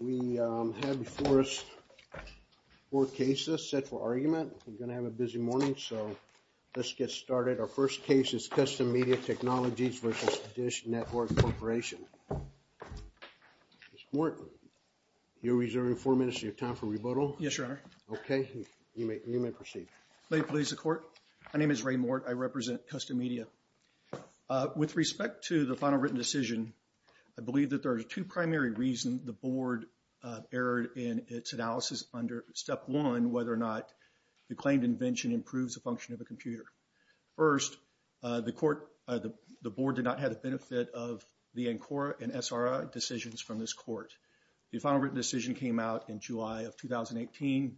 We have before us four cases set for argument. We're going to have a busy morning, so let's get started. Our first case is Custom Media Technologies v. DISH Network Corporation. Mr. Morton, you're reserving four minutes of your time for rebuttal. Yes, Your Honor. Okay, you may proceed. My name is Ray Morton. I represent Custom Media. With respect to the final written decision, I believe that there are two primary reasons the Board erred in its analysis under Step 1, whether or not the claimed invention improves the function of a computer. First, the Board did not have the benefit of the ANCORA and SRA decisions from this Court. The final written decision came out in July of 2018.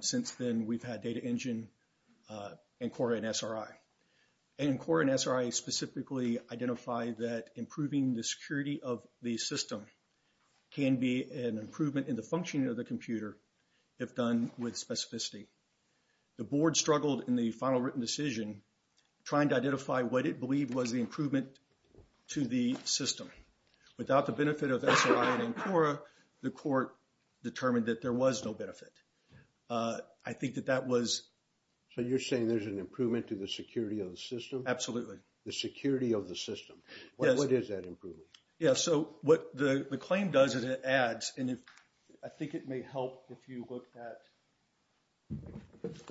Since then, we've had Data Engine, ANCORA, and SRA. ANCORA and SRA specifically identify that improving the security of the system can be an improvement in the functioning of the computer if done with specificity. The Board struggled in the final written decision trying to identify what it believed was the improvement to the system. Without the benefit of SRA and ANCORA, the Court determined that there was no benefit. I think that that was... So you're saying there's an improvement to the security of the system? Absolutely. The security of the system. Yes. What is that improvement? Yeah, so what the claim does is it adds, and I think it may help if you look at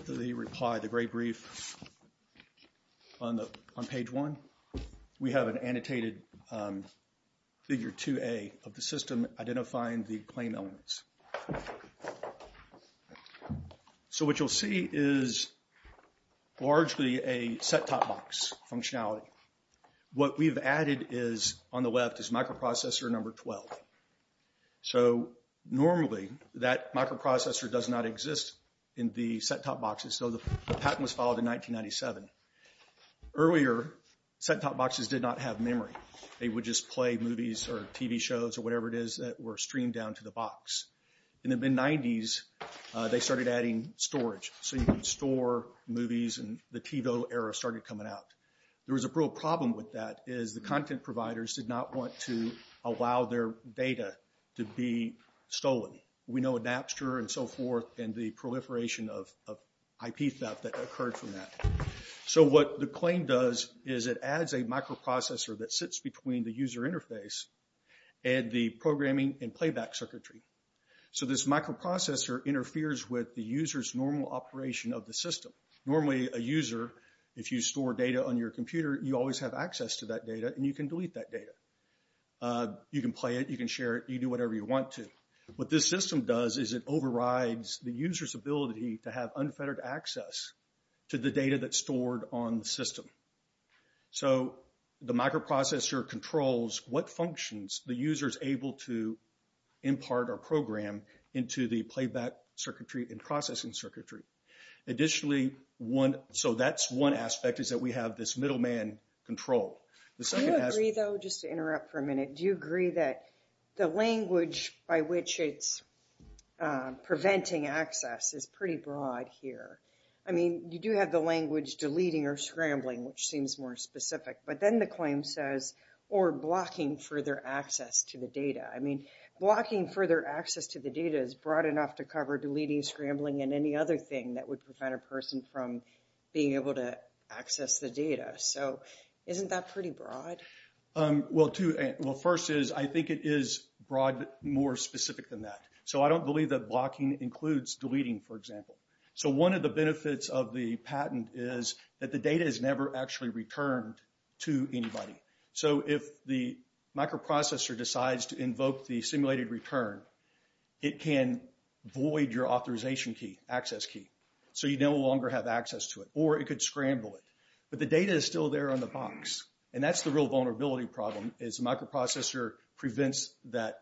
the reply, the Gray Brief on page 1. We have an annotated figure 2A of the system identifying the claim elements. So what you'll see is largely a set-top box functionality. What we've added on the left is microprocessor number 12. So normally, that microprocessor does not exist in the set-top boxes. So the patent was filed in 1997. Earlier, set-top boxes did not have memory. They would just play movies or TV shows or whatever it is that were streamed down to the box. In the mid-'90s, they started adding storage. So you can store movies, and the TiVo era started coming out. There was a real problem with that is the content providers did not want to allow their data to be stolen. We know Adapster and so forth and the proliferation of IP theft that occurred from that. So what the claim does is it adds a microprocessor that sits between the user interface and the programming and playback circuitry. So this microprocessor interferes with the user's normal operation of the system. Normally, a user, if you store data on your computer, you always have access to that data, and you can delete that data. You can play it. You can share it. You can do whatever you want to. What this system does is it overrides the user's ability to have unfettered access to the data that's stored on the system. So the microprocessor controls what functions the user is able to impart or program into the playback circuitry and processing circuitry. Additionally, so that's one aspect is that we have this middleman control. The second aspect... Do you agree, though, just to interrupt for a minute, do you agree that the language by which it's preventing access is pretty broad here? I mean, you do have the language deleting or scrambling, which seems more specific. But then the claim says, or blocking further access to the data. I mean, blocking further access to the data is broad enough to cover deleting, scrambling, and any other thing that would prevent a person from being able to access the data. So isn't that pretty broad? Well, first is I think it is broad more specific than that. So I don't believe that blocking includes deleting, for example. So one of the benefits of the patent is that the data is never actually returned to anybody. So if the microprocessor decides to invoke the simulated return, it can void your authorization key, access key. So you no longer have access to it. Or it could scramble it. But the data is still there on the box. And that's the real vulnerability problem is the microprocessor prevents that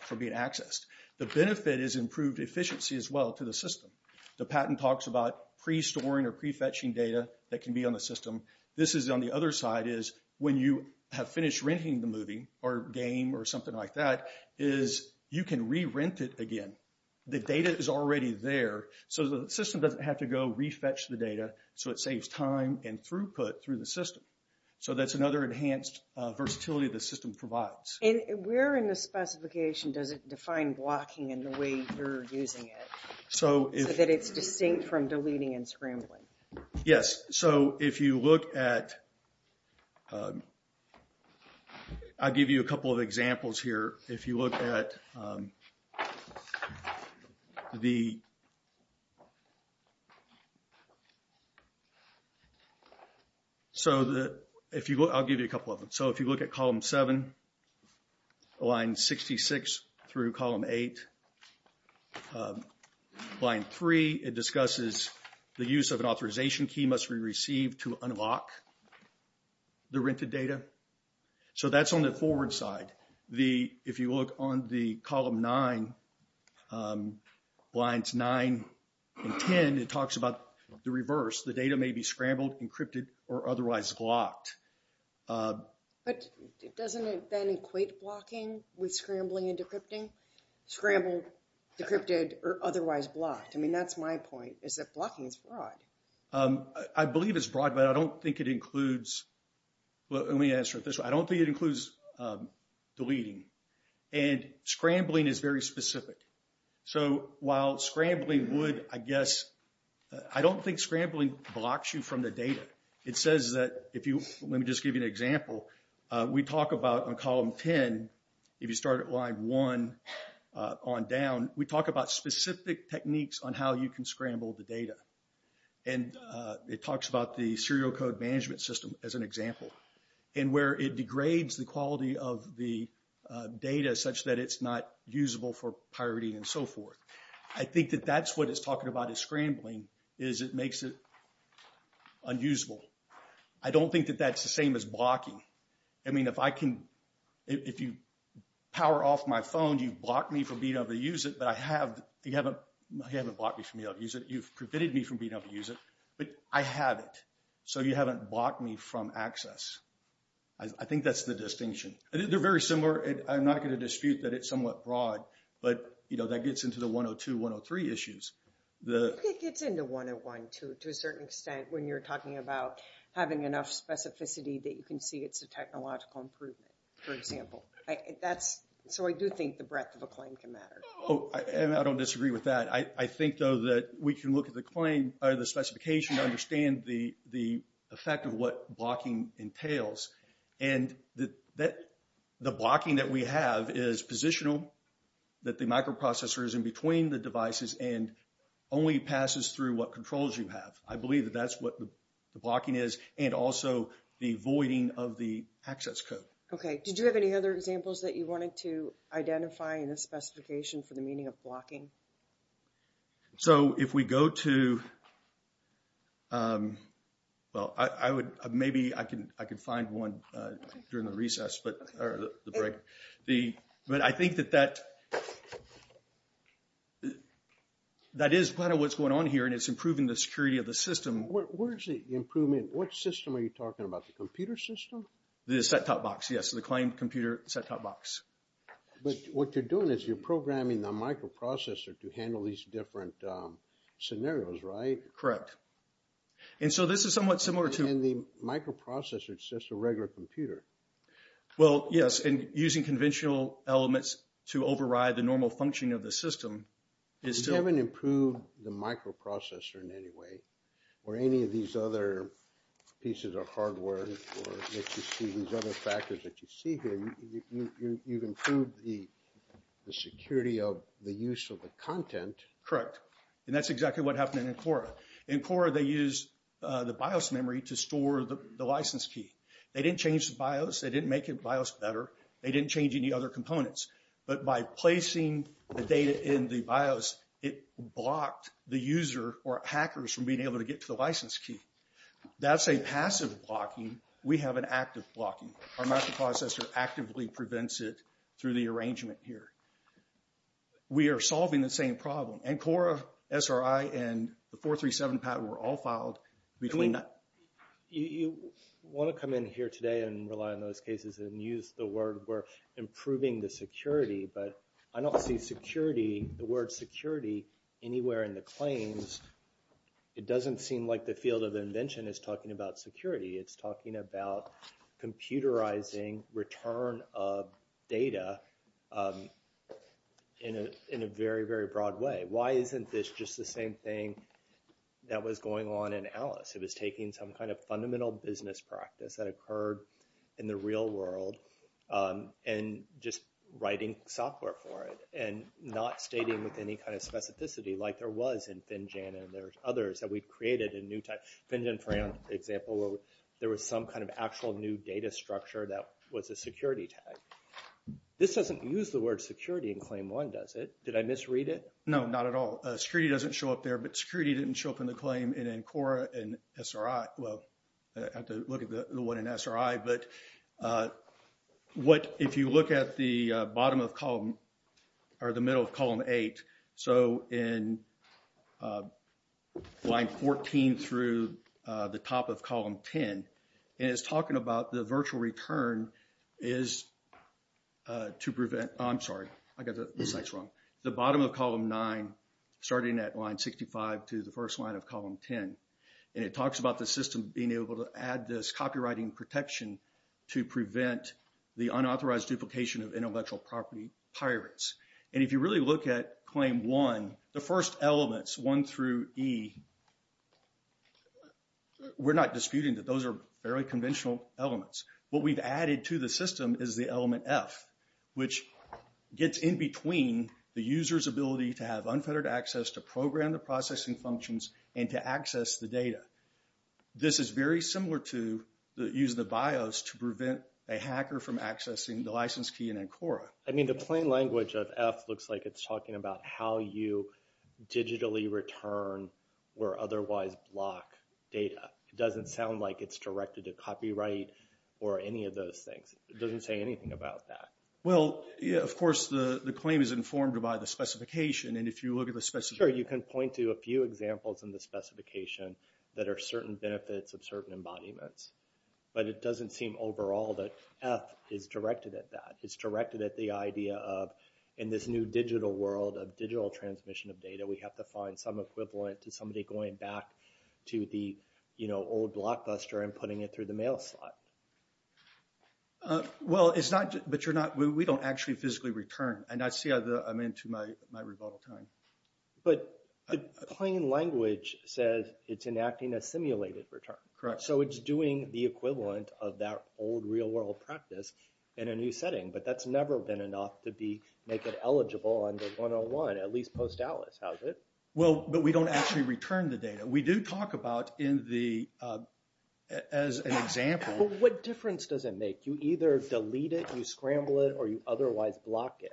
from being accessed. The benefit is improved efficiency as well to the system. The patent talks about pre-storing or pre-fetching data that can be on the system. This is on the other side is when you have finished renting the movie or game or something like that is you can re-rent it again. The data is already there. So the system doesn't have to go re-fetch the data. So it saves time and throughput through the system. So that's another enhanced versatility the system provides. And where in the specification does it define blocking in the way you're using it so that it's distinct from deleting and scrambling? Yes. So if you look at... I'll give you a couple of examples here. If you look at the... I'll give you a couple of them. So if you look at column 7, line 66 through column 8. Line 3, it discusses the use of an authorization key must be received to unlock the rented data. So that's on the forward side. If you look on the column 9, lines 9 and 10, it talks about the reverse. The data may be scrambled, encrypted, or otherwise blocked. But doesn't it then equate blocking with scrambling and decrypting? Scrambled, decrypted, or otherwise blocked. I mean, that's my point is that blocking is broad. I believe it's broad, but I don't think it includes... Let me answer it this way. I don't think it includes deleting. And scrambling is very specific. So while scrambling would, I guess... I don't think scrambling blocks you from the data. It says that if you... Let me just give you an example. We talk about on column 10, if you start at line 1 on down, we talk about specific techniques on how you can scramble the data. And it talks about the serial code management system as an example. And where it degrades the quality of the data such that it's not usable for pirating and so forth. I think that that's what it's talking about is scrambling is it makes it unusable. I don't think that that's the same as blocking. I mean, if I can... If you power off my phone, you've blocked me from being able to use it. But I have... You haven't blocked me from being able to use it. You've prevented me from being able to use it. But I have it. So you haven't blocked me from access. I think that's the distinction. They're very similar. I'm not going to dispute that it's somewhat broad. But, you know, that gets into the 102, 103 issues. It gets into 101, too, to a certain extent when you're talking about having enough specificity that you can see it's a technological improvement, for example. That's... So I do think the breadth of a claim can matter. Oh, and I don't disagree with that. I think, though, that we can look at the claim or the specification to understand the effect of what blocking entails. And the blocking that we have is positional, that the microprocessor is in between the devices and only passes through what controls you have. I believe that that's what the blocking is and also the voiding of the access code. Okay. Did you have any other examples that you wanted to identify in the specification for the meaning of blocking? So if we go to... Well, I would... Maybe I can find one during the recess, but... Or the break. But I think that that... That is kind of what's going on here and it's improving the security of the system. Where is the improvement? What system are you talking about? The computer system? The set-top box, yes. The claim computer set-top box. But what you're doing is you're programming the microprocessor to handle these different scenarios, right? Correct. And so this is somewhat similar to... In the microprocessor, it's just a regular computer. Well, yes. And using conventional elements to override the normal function of the system is still... You haven't improved the microprocessor in any way or any of these other pieces of hardware or these other factors that you see here. You've improved the security of the use of the content. Correct. And that's exactly what happened in Encora. In Encora, they used the BIOS memory to store the license key. They didn't change the BIOS. They didn't make the BIOS better. They didn't change any other components. But by placing the data in the BIOS, it blocked the user or hackers from being able to get to the license key. That's a passive blocking. We have an active blocking. Our microprocessor actively prevents it through the arrangement here. We are solving the same problem. Encora, SRI, and the 437 patent were all filed between... You want to come in here today and rely on those cases and use the word we're improving the security. But I don't see security, the word security, anywhere in the claims. It doesn't seem like the field of invention is talking about security. It's talking about computerizing return of data in a very, very broad way. Why isn't this just the same thing that was going on in Alice? It was taking some kind of fundamental business practice that occurred in the real world and just writing software for it and not stating with any kind of specificity like there was in Finjan and there's others that we've created in new types. Finjan, for example, where there was some kind of actual new data structure that was a security tag. This doesn't use the word security in claim one, does it? Did I misread it? No, not at all. Security doesn't show up there, but security didn't show up in the claim in Encora and SRI. Well, I have to look at the one in SRI. But if you look at the bottom of column or the middle of column eight, so in line 14 through the top of column 10, and it's talking about the virtual return is to prevent. I'm sorry. I got the slides wrong. The bottom of column nine starting at line 65 to the first line of column 10. And it talks about the system being able to add this copywriting protection to prevent the unauthorized duplication of intellectual property pirates. And if you really look at claim one, the first elements, one through E, we're not disputing that those are very conventional elements. What we've added to the system is the element F, which gets in between the user's ability to have unfettered access to program the processing functions and to access the data. This is very similar to using the BIOS to prevent a hacker from accessing the license key in Encora. I mean, the plain language of F looks like it's talking about how you digitally return or otherwise block data. It doesn't sound like it's directed to copyright or any of those things. It doesn't say anything about that. Well, of course, the claim is informed by the specification. Sure, you can point to a few examples in the specification that are certain benefits of certain embodiments. But it doesn't seem overall that F is directed at that. It's directed at the idea of, in this new digital world of digital transmission of data, we have to find some equivalent to somebody going back to the old blockbuster and putting it through the mail slot. Well, but we don't actually physically return. And I see I'm into my rebuttal time. But the plain language says it's enacting a simulated return. Correct. So it's doing the equivalent of that old real-world practice in a new setting. But that's never been enough to make it eligible under 101, at least post-ALICE, has it? Well, but we don't actually return the data. We do talk about in the – as an example. But what difference does it make? You either delete it, you scramble it, or you otherwise block it.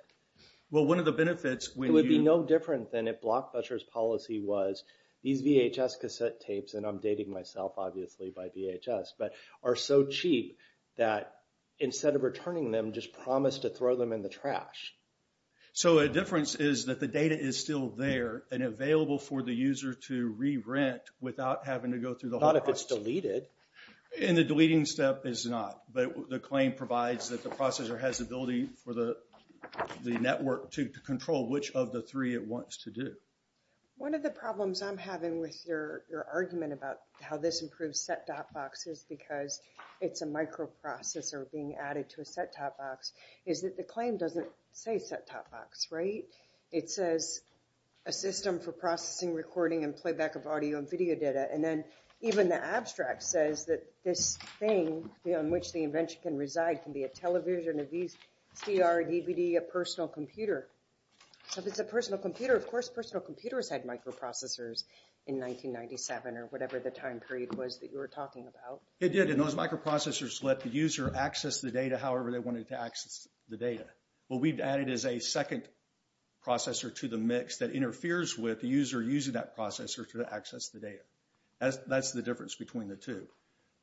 Well, one of the benefits when you – It would be no different than if blockbuster's policy was these VHS cassette tapes, and I'm dating myself, obviously, by VHS, but are so cheap that instead of returning them, just promise to throw them in the trash. So a difference is that the data is still there and available for the user to re-rent without having to go through the whole process. Not if it's deleted. And the deleting step is not. But the claim provides that the processor has the ability for the network to control which of the three it wants to do. One of the problems I'm having with your argument about how this improves set-top boxes because it's a microprocessor being added to a set-top box is that the claim doesn't say set-top box, right? It says a system for processing, recording, and playback of audio and video data. And then even the abstract says that this thing on which the invention can reside can be a television, a VCR, a DVD, a personal computer. So if it's a personal computer, of course personal computers had microprocessors in 1997 or whatever the time period was that you were talking about. It did, and those microprocessors let the user access the data however they wanted to access the data. What we've added is a second processor to the mix that interferes with the user using that processor to access the data. That's the difference between the two.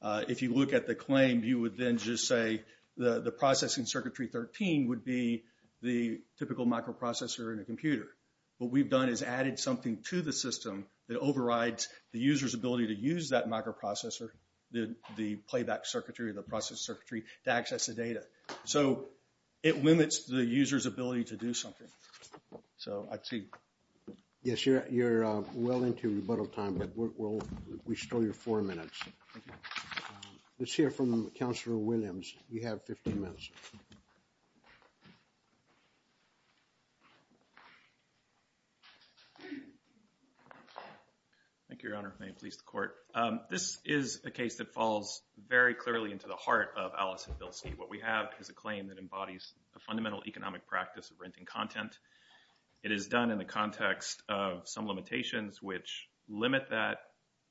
If you look at the claim, you would then just say the processing circuitry 13 would be the typical microprocessor in a computer. What we've done is added something to the system that overrides the user's ability to use that microprocessor, the playback circuitry, the process circuitry, to access the data. So it limits the user's ability to do something. So I'd see. Yes, you're well into rebuttal time, but we'll restore your four minutes. Let's hear from Councilor Williams. You have 15 minutes. Thank you, Your Honor. May it please the Court. This is a case that falls very clearly into the heart of Alice and Bilstein. What we have is a claim that embodies a fundamental economic practice of renting content. It is done in the context of some limitations which limit that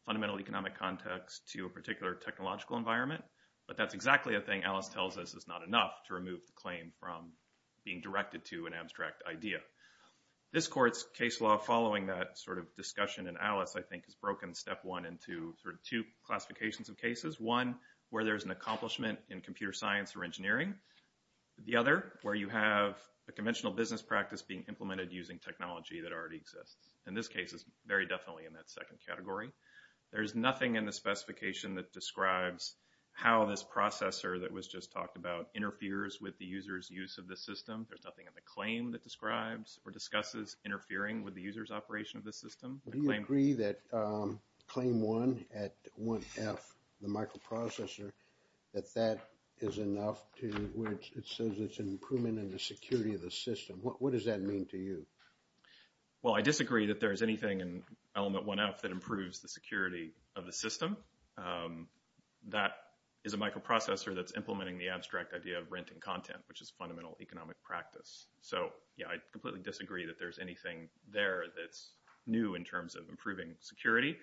fundamental economic context to a particular technological environment. But that's exactly a thing Alice tells us is not enough to remove the claim from being directed to an abstract idea. This Court's case law following that sort of discussion in Alice, I think, has broken step one into sort of two classifications of cases. One, where there's an accomplishment in computer science or engineering. The other, where you have a conventional business practice being implemented using technology that already exists. And this case is very definitely in that second category. There's nothing in the specification that describes how this processor that was just talked about interferes with the user's use of the system. There's nothing in the claim that describes or discusses interfering with the user's operation of the system. Do you agree that Claim 1 at 1F, the microprocessor, that that is enough to where it says it's an improvement in the security of the system? What does that mean to you? Well, I disagree that there's anything in Element 1F that improves the security of the system. That is a microprocessor that's implementing the abstract idea of renting content, which is fundamental economic practice. So, yeah, I completely disagree that there's anything there that's new in terms of improving security.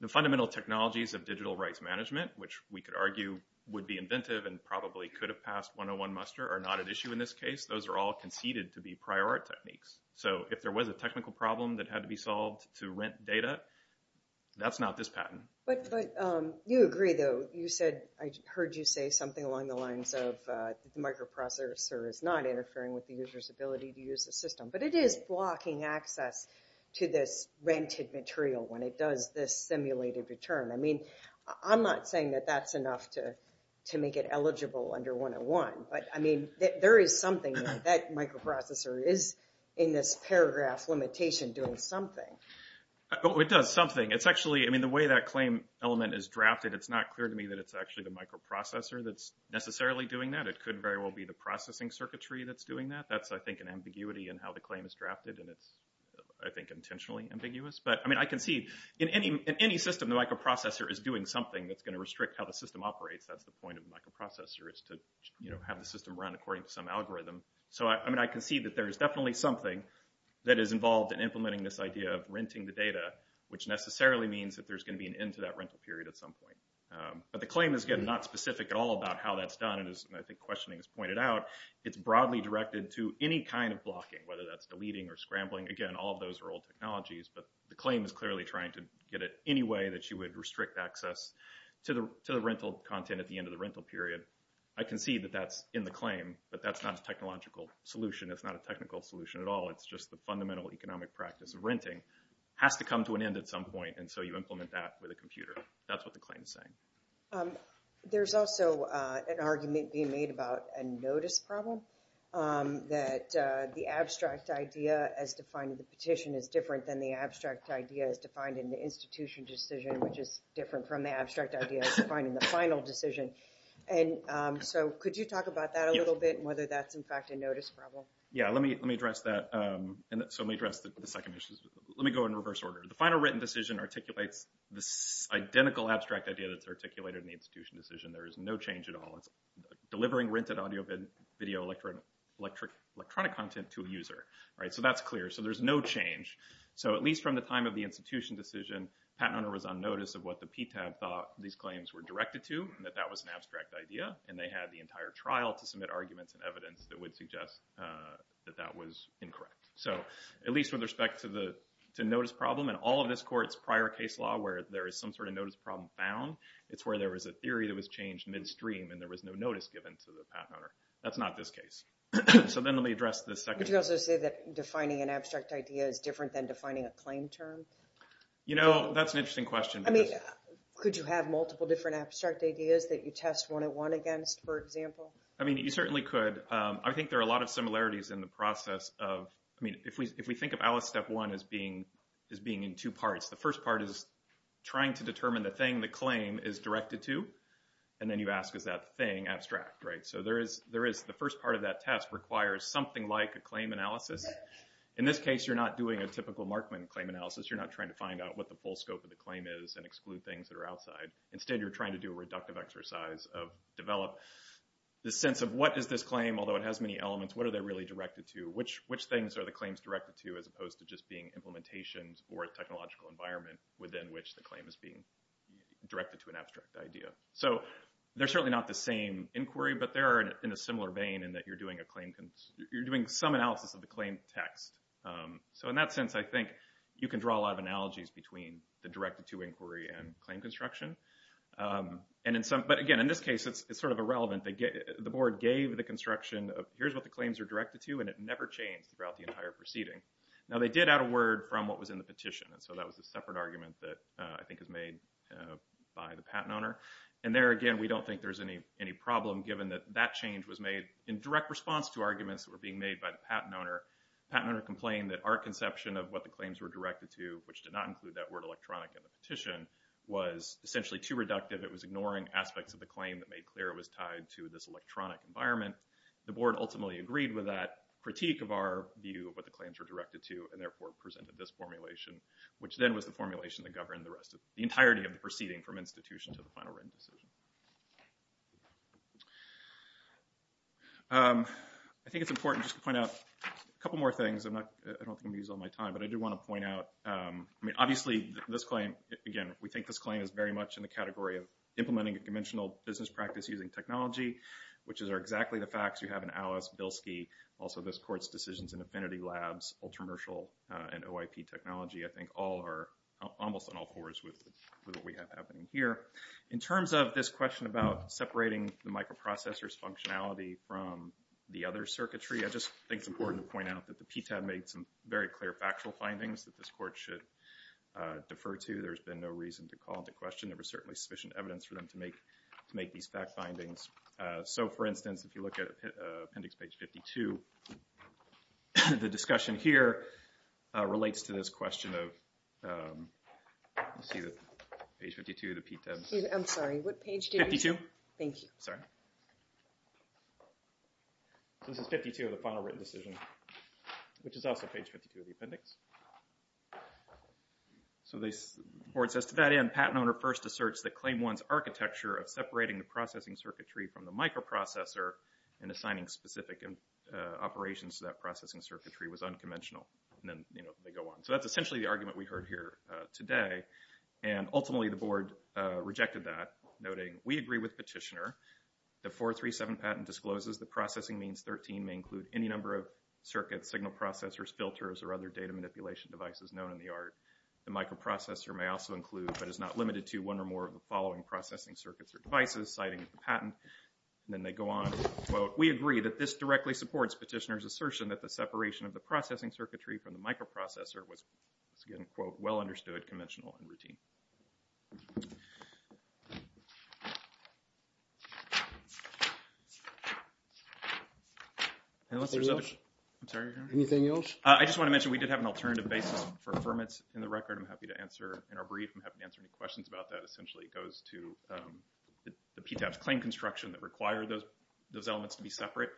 The fundamental technologies of digital rights management, which we could argue would be inventive and probably could have passed 101 muster, are not at issue in this case. Those are all conceded to be prior art techniques. So if there was a technical problem that had to be solved to rent data, that's not this patent. But you agree, though. You said, I heard you say something along the lines of the microprocessor is not interfering with the user's ability to use the system. But it is blocking access to this rented material when it does this simulated return. I mean, I'm not saying that that's enough to make it eligible under 101. But, I mean, there is something that microprocessor is in this paragraph limitation doing something. It does something. It's actually, I mean, the way that claim element is drafted, it's not clear to me that it's actually the microprocessor that's necessarily doing that. It could very well be the processing circuitry that's doing that. That's, I think, an ambiguity in how the claim is drafted. And it's, I think, intentionally ambiguous. But, I mean, I can see in any system the microprocessor is doing something that's going to restrict how the system operates. That's the point of microprocessor is to, you know, have the system run according to some algorithm. So, I mean, I can see that there is definitely something that is involved in implementing this idea of renting the data, which necessarily means that there's going to be an end to that rental period at some point. But the claim is, again, not specific at all about how that's done. And as I think questioning has pointed out, it's broadly directed to any kind of blocking, whether that's deleting or scrambling. Again, all of those are old technologies. But the claim is clearly trying to get it any way that you would restrict access to the rental content at the end of the rental period. I can see that that's in the claim. But that's not a technological solution. It's not a technical solution at all. It's just the fundamental economic practice of renting has to come to an end at some point. And so you implement that with a computer. That's what the claim is saying. There's also an argument being made about a notice problem. That the abstract idea as defined in the petition is different than the abstract idea as defined in the institution decision, which is different from the abstract idea as defined in the final decision. And so could you talk about that a little bit and whether that's, in fact, a notice problem? Yeah, let me address that. So let me address the second issue. Let me go in reverse order. The final written decision articulates this identical abstract idea that's articulated in the institution decision. There is no change at all. It's delivering rented audio and video electronic content to a user. So that's clear. So there's no change. So at least from the time of the institution decision, patent owner was on notice of what the PTAB thought these claims were directed to, and that that was an abstract idea. And they had the entire trial to submit arguments and evidence that would suggest that that was incorrect. So at least with respect to notice problem, in all of this court's prior case law where there is some sort of notice problem found, it's where there was a theory that was changed midstream and there was no notice given to the patent owner. That's not this case. So then let me address the second. Could you also say that defining an abstract idea is different than defining a claim term? You know, that's an interesting question. I mean, could you have multiple different abstract ideas that you test one-on-one against, for example? I mean, you certainly could. I think there are a lot of similarities in the process of, I mean, if we think of Alice Step 1 as being in two parts, the first part is trying to determine the thing the claim is directed to, and then you ask, is that thing abstract, right? So there is the first part of that test requires something like a claim analysis. In this case, you're not doing a typical Markman claim analysis. You're not trying to find out what the full scope of the claim is and exclude things that are outside. Instead, you're trying to do a reductive exercise of develop the sense of what is this claim? Although it has many elements, what are they really directed to? Which things are the claims directed to as opposed to just being implementations or a technological environment within which the claim is being directed to an abstract idea? So they're certainly not the same inquiry, but they are in a similar vein in that you're doing some analysis of the claim text. So in that sense, I think you can draw a lot of analogies between the directed-to inquiry and claim construction. But again, in this case, it's sort of irrelevant. The board gave the construction of here's what the claims are directed to, and it never changed throughout the entire proceeding. Now, they did add a word from what was in the petition, and so that was a separate argument that I think is made by the patent owner. And there, again, we don't think there's any problem given that that change was made in direct response to arguments that were being made by the patent owner. The patent owner complained that our conception of what the claims were directed to, which did not include that word electronic in the petition, was essentially too reductive. It was ignoring aspects of the claim that made clear it was tied to this electronic environment. The board ultimately agreed with that critique of our view of what the claims were directed to and therefore presented this formulation, which then was the formulation that governed the entirety of the proceeding from institution to the final written decision. I think it's important just to point out a couple more things. I don't think I'm going to use all my time, but I do want to point out, I mean, obviously, this claim, again, we think this claim is very much in the category of implementing a conventional business practice using technology, which are exactly the facts you have in Alice, Bilski, also this court's decisions in Affinity Labs, Ultramershal, and OIP technology. I think almost on all fours with what we have happening here. In terms of this question about separating the microprocessor's functionality from the other circuitry, I just think it's important to point out that the PTAB made some very clear factual findings that this court should defer to. There's been no reason to call into question. There was certainly sufficient evidence for them to make these fact findings. For instance, if you look at appendix page 52, the discussion here relates to this question of, let's see, page 52 of the PTAB. I'm sorry, what page do you mean? 52. Thank you. Sorry. This is 52 of the final written decision, which is also page 52 of the appendix. The court says, to that end, patent owner first asserts that claim one's architecture of separating the processing circuitry from the microprocessor and assigning specific operations to that processing circuitry was unconventional. And then they go on. So that's essentially the argument we heard here today. And ultimately, the board rejected that, noting, we agree with petitioner. The 437 patent discloses that processing means 13 may include any number of circuits, signal processors, filters, or other data manipulation devices known in the art. The microprocessor may also include, but is not limited to, one or more of the following processing circuits or devices, citing the patent. And then they go on, quote, we agree that this directly supports petitioner's assertion that the separation of the processing circuitry from the microprocessor was, once again, quote, well understood, conventional, and routine. Anything else? I'm sorry. Anything else? I just want to mention, we did have an alternative basis for affirmance in the record. I'm happy to answer in our brief. I'm happy to answer any questions about that. Essentially, it goes to the PTAP's claim construction that required those elements to be separate.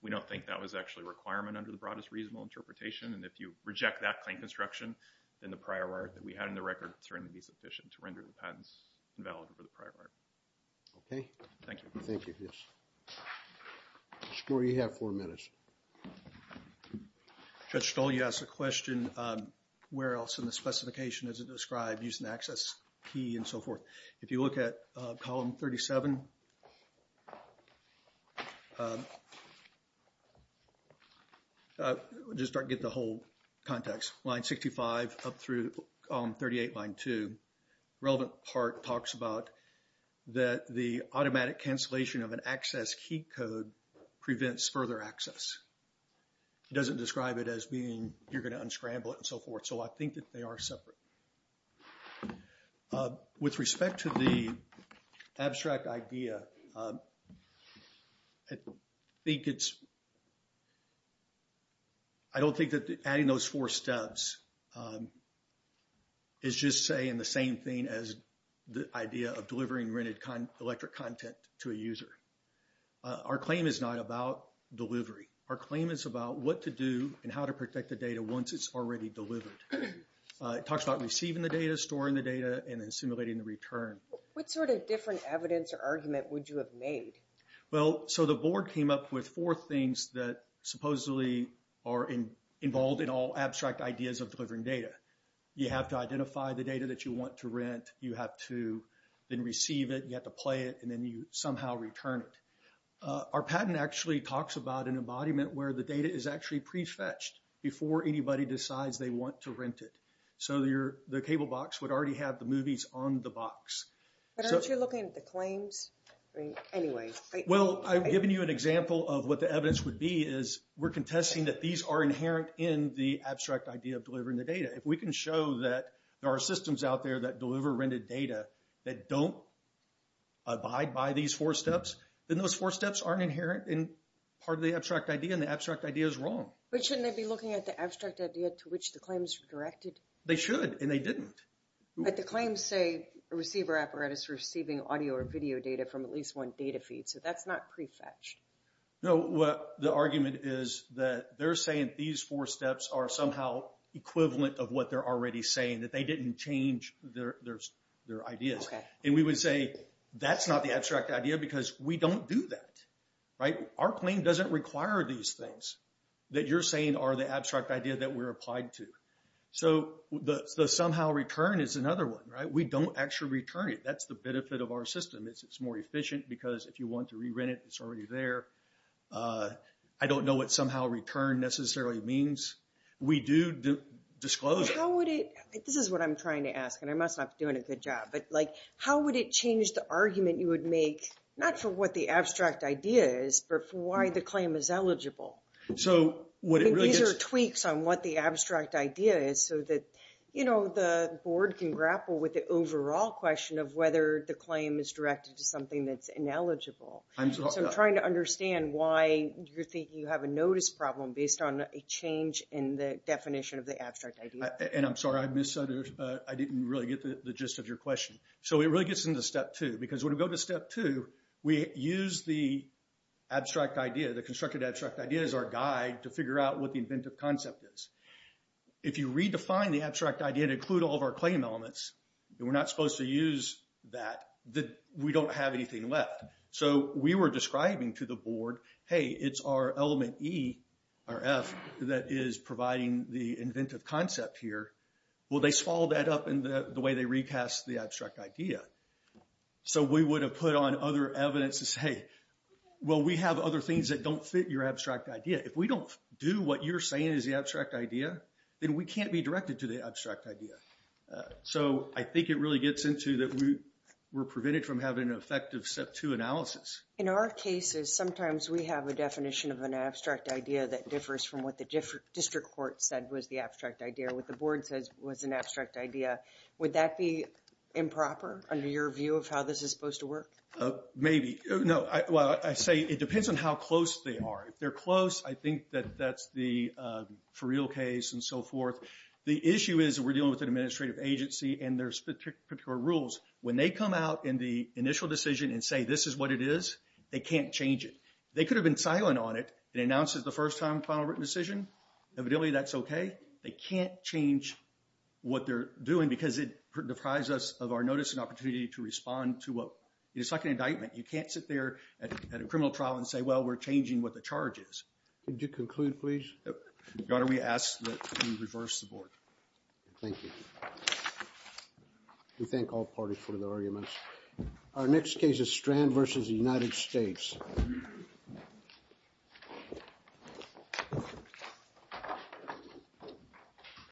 We don't think that was actually a requirement under the broadest reasonable interpretation. And if you reject that claim construction, then the prior art that we had in the record is going to be sufficient to render the patents invalid for the prior art. Okay. Thank you. Thank you. Yes. Mr. Gore, you have four minutes. Judge Stoll, you asked a question. Where else in the specification is it described using the access key and so forth? If you look at Column 37, just to get the whole context, Line 65 up through Column 38, Line 2, relevant part talks about that the automatic cancellation of an access key code prevents further access. It doesn't describe it as being you're going to unscramble it and so forth. So I think that they are separate. With respect to the abstract idea, I don't think that adding those four steps is just saying the same thing Our claim is not about delivery. Our claim is about what to do and how to protect the data once it's already delivered. It talks about receiving the data, storing the data, and then simulating the return. What sort of different evidence or argument would you have made? Well, so the board came up with four things that supposedly are involved in all abstract ideas of delivering data. You have to identify the data that you want to rent, you have to then receive it, you have to play it, and then you somehow return it. Our patent actually talks about an embodiment where the data is actually prefetched before anybody decides they want to rent it. So the cable box would already have the movies on the box. But aren't you looking at the claims? Well, I've given you an example of what the evidence would be is we're contesting that these are inherent in the abstract idea of delivering the data. If we can show that there are systems out there that deliver rented data that don't abide by these four steps, then those four steps aren't inherent in part of the abstract idea, and the abstract idea is wrong. But shouldn't they be looking at the abstract idea to which the claims are directed? They should, and they didn't. But the claims say a receiver apparatus receiving audio or video data from at least one data feed. So that's not prefetched. No, the argument is that they're saying these four steps are somehow equivalent of what they're already saying, that they didn't change their ideas. And we would say that's not the abstract idea because we don't do that. Our claim doesn't require these things that you're saying are the abstract idea that we're applying to. So the somehow return is another one. We don't actually return it. That's the benefit of our system. It's more efficient because if you want to re-rent it, it's already there. I don't know what somehow return necessarily means. We do disclose it. This is what I'm trying to ask, and I must not be doing a good job, but how would it change the argument you would make, not for what the abstract idea is, but for why the claim is eligible? These are tweaks on what the abstract idea is so that the board can grapple with the overall question of whether the claim is directed to something that's ineligible. So I'm trying to understand why you're thinking you have a notice problem based on a change in the definition of the abstract idea. And I'm sorry, I didn't really get the gist of your question. So it really gets into step two because when we go to step two, we use the abstract idea, the constructed abstract idea, as our guide to figure out what the inventive concept is. If you redefine the abstract idea to include all of our claim elements, we're not supposed to use that. We don't have anything left. So we were describing to the board, hey, it's our element E or F that is providing the inventive concept here. Well, they swallowed that up in the way they recast the abstract idea. So we would have put on other evidence to say, well, we have other things that don't fit your abstract idea. If we don't do what you're saying is the abstract idea, then we can't be directed to the abstract idea. So I think it really gets into that we're prevented from having an effective step two analysis. In our cases, sometimes we have a definition of an abstract idea that differs from what the district court said was the abstract idea, what the board says was an abstract idea. Would that be improper under your view of how this is supposed to work? Maybe. No. Well, I say it depends on how close they are. If they're close, I think that that's the for real case and so forth. The issue is we're dealing with an administrative agency, and there's particular rules. When they come out in the initial decision and say this is what it is, they can't change it. They could have been silent on it. It announces the first time final written decision. Evidently that's okay. They can't change what they're doing because it deprives us of our notice and opportunity to respond to a second indictment. You can't sit there at a criminal trial and say, well, we're changing what the charge is. Could you conclude, please? Your Honor, we ask that you reverse the board. Thank you. We thank all parties for their arguments. Our next case is Strand v. United States.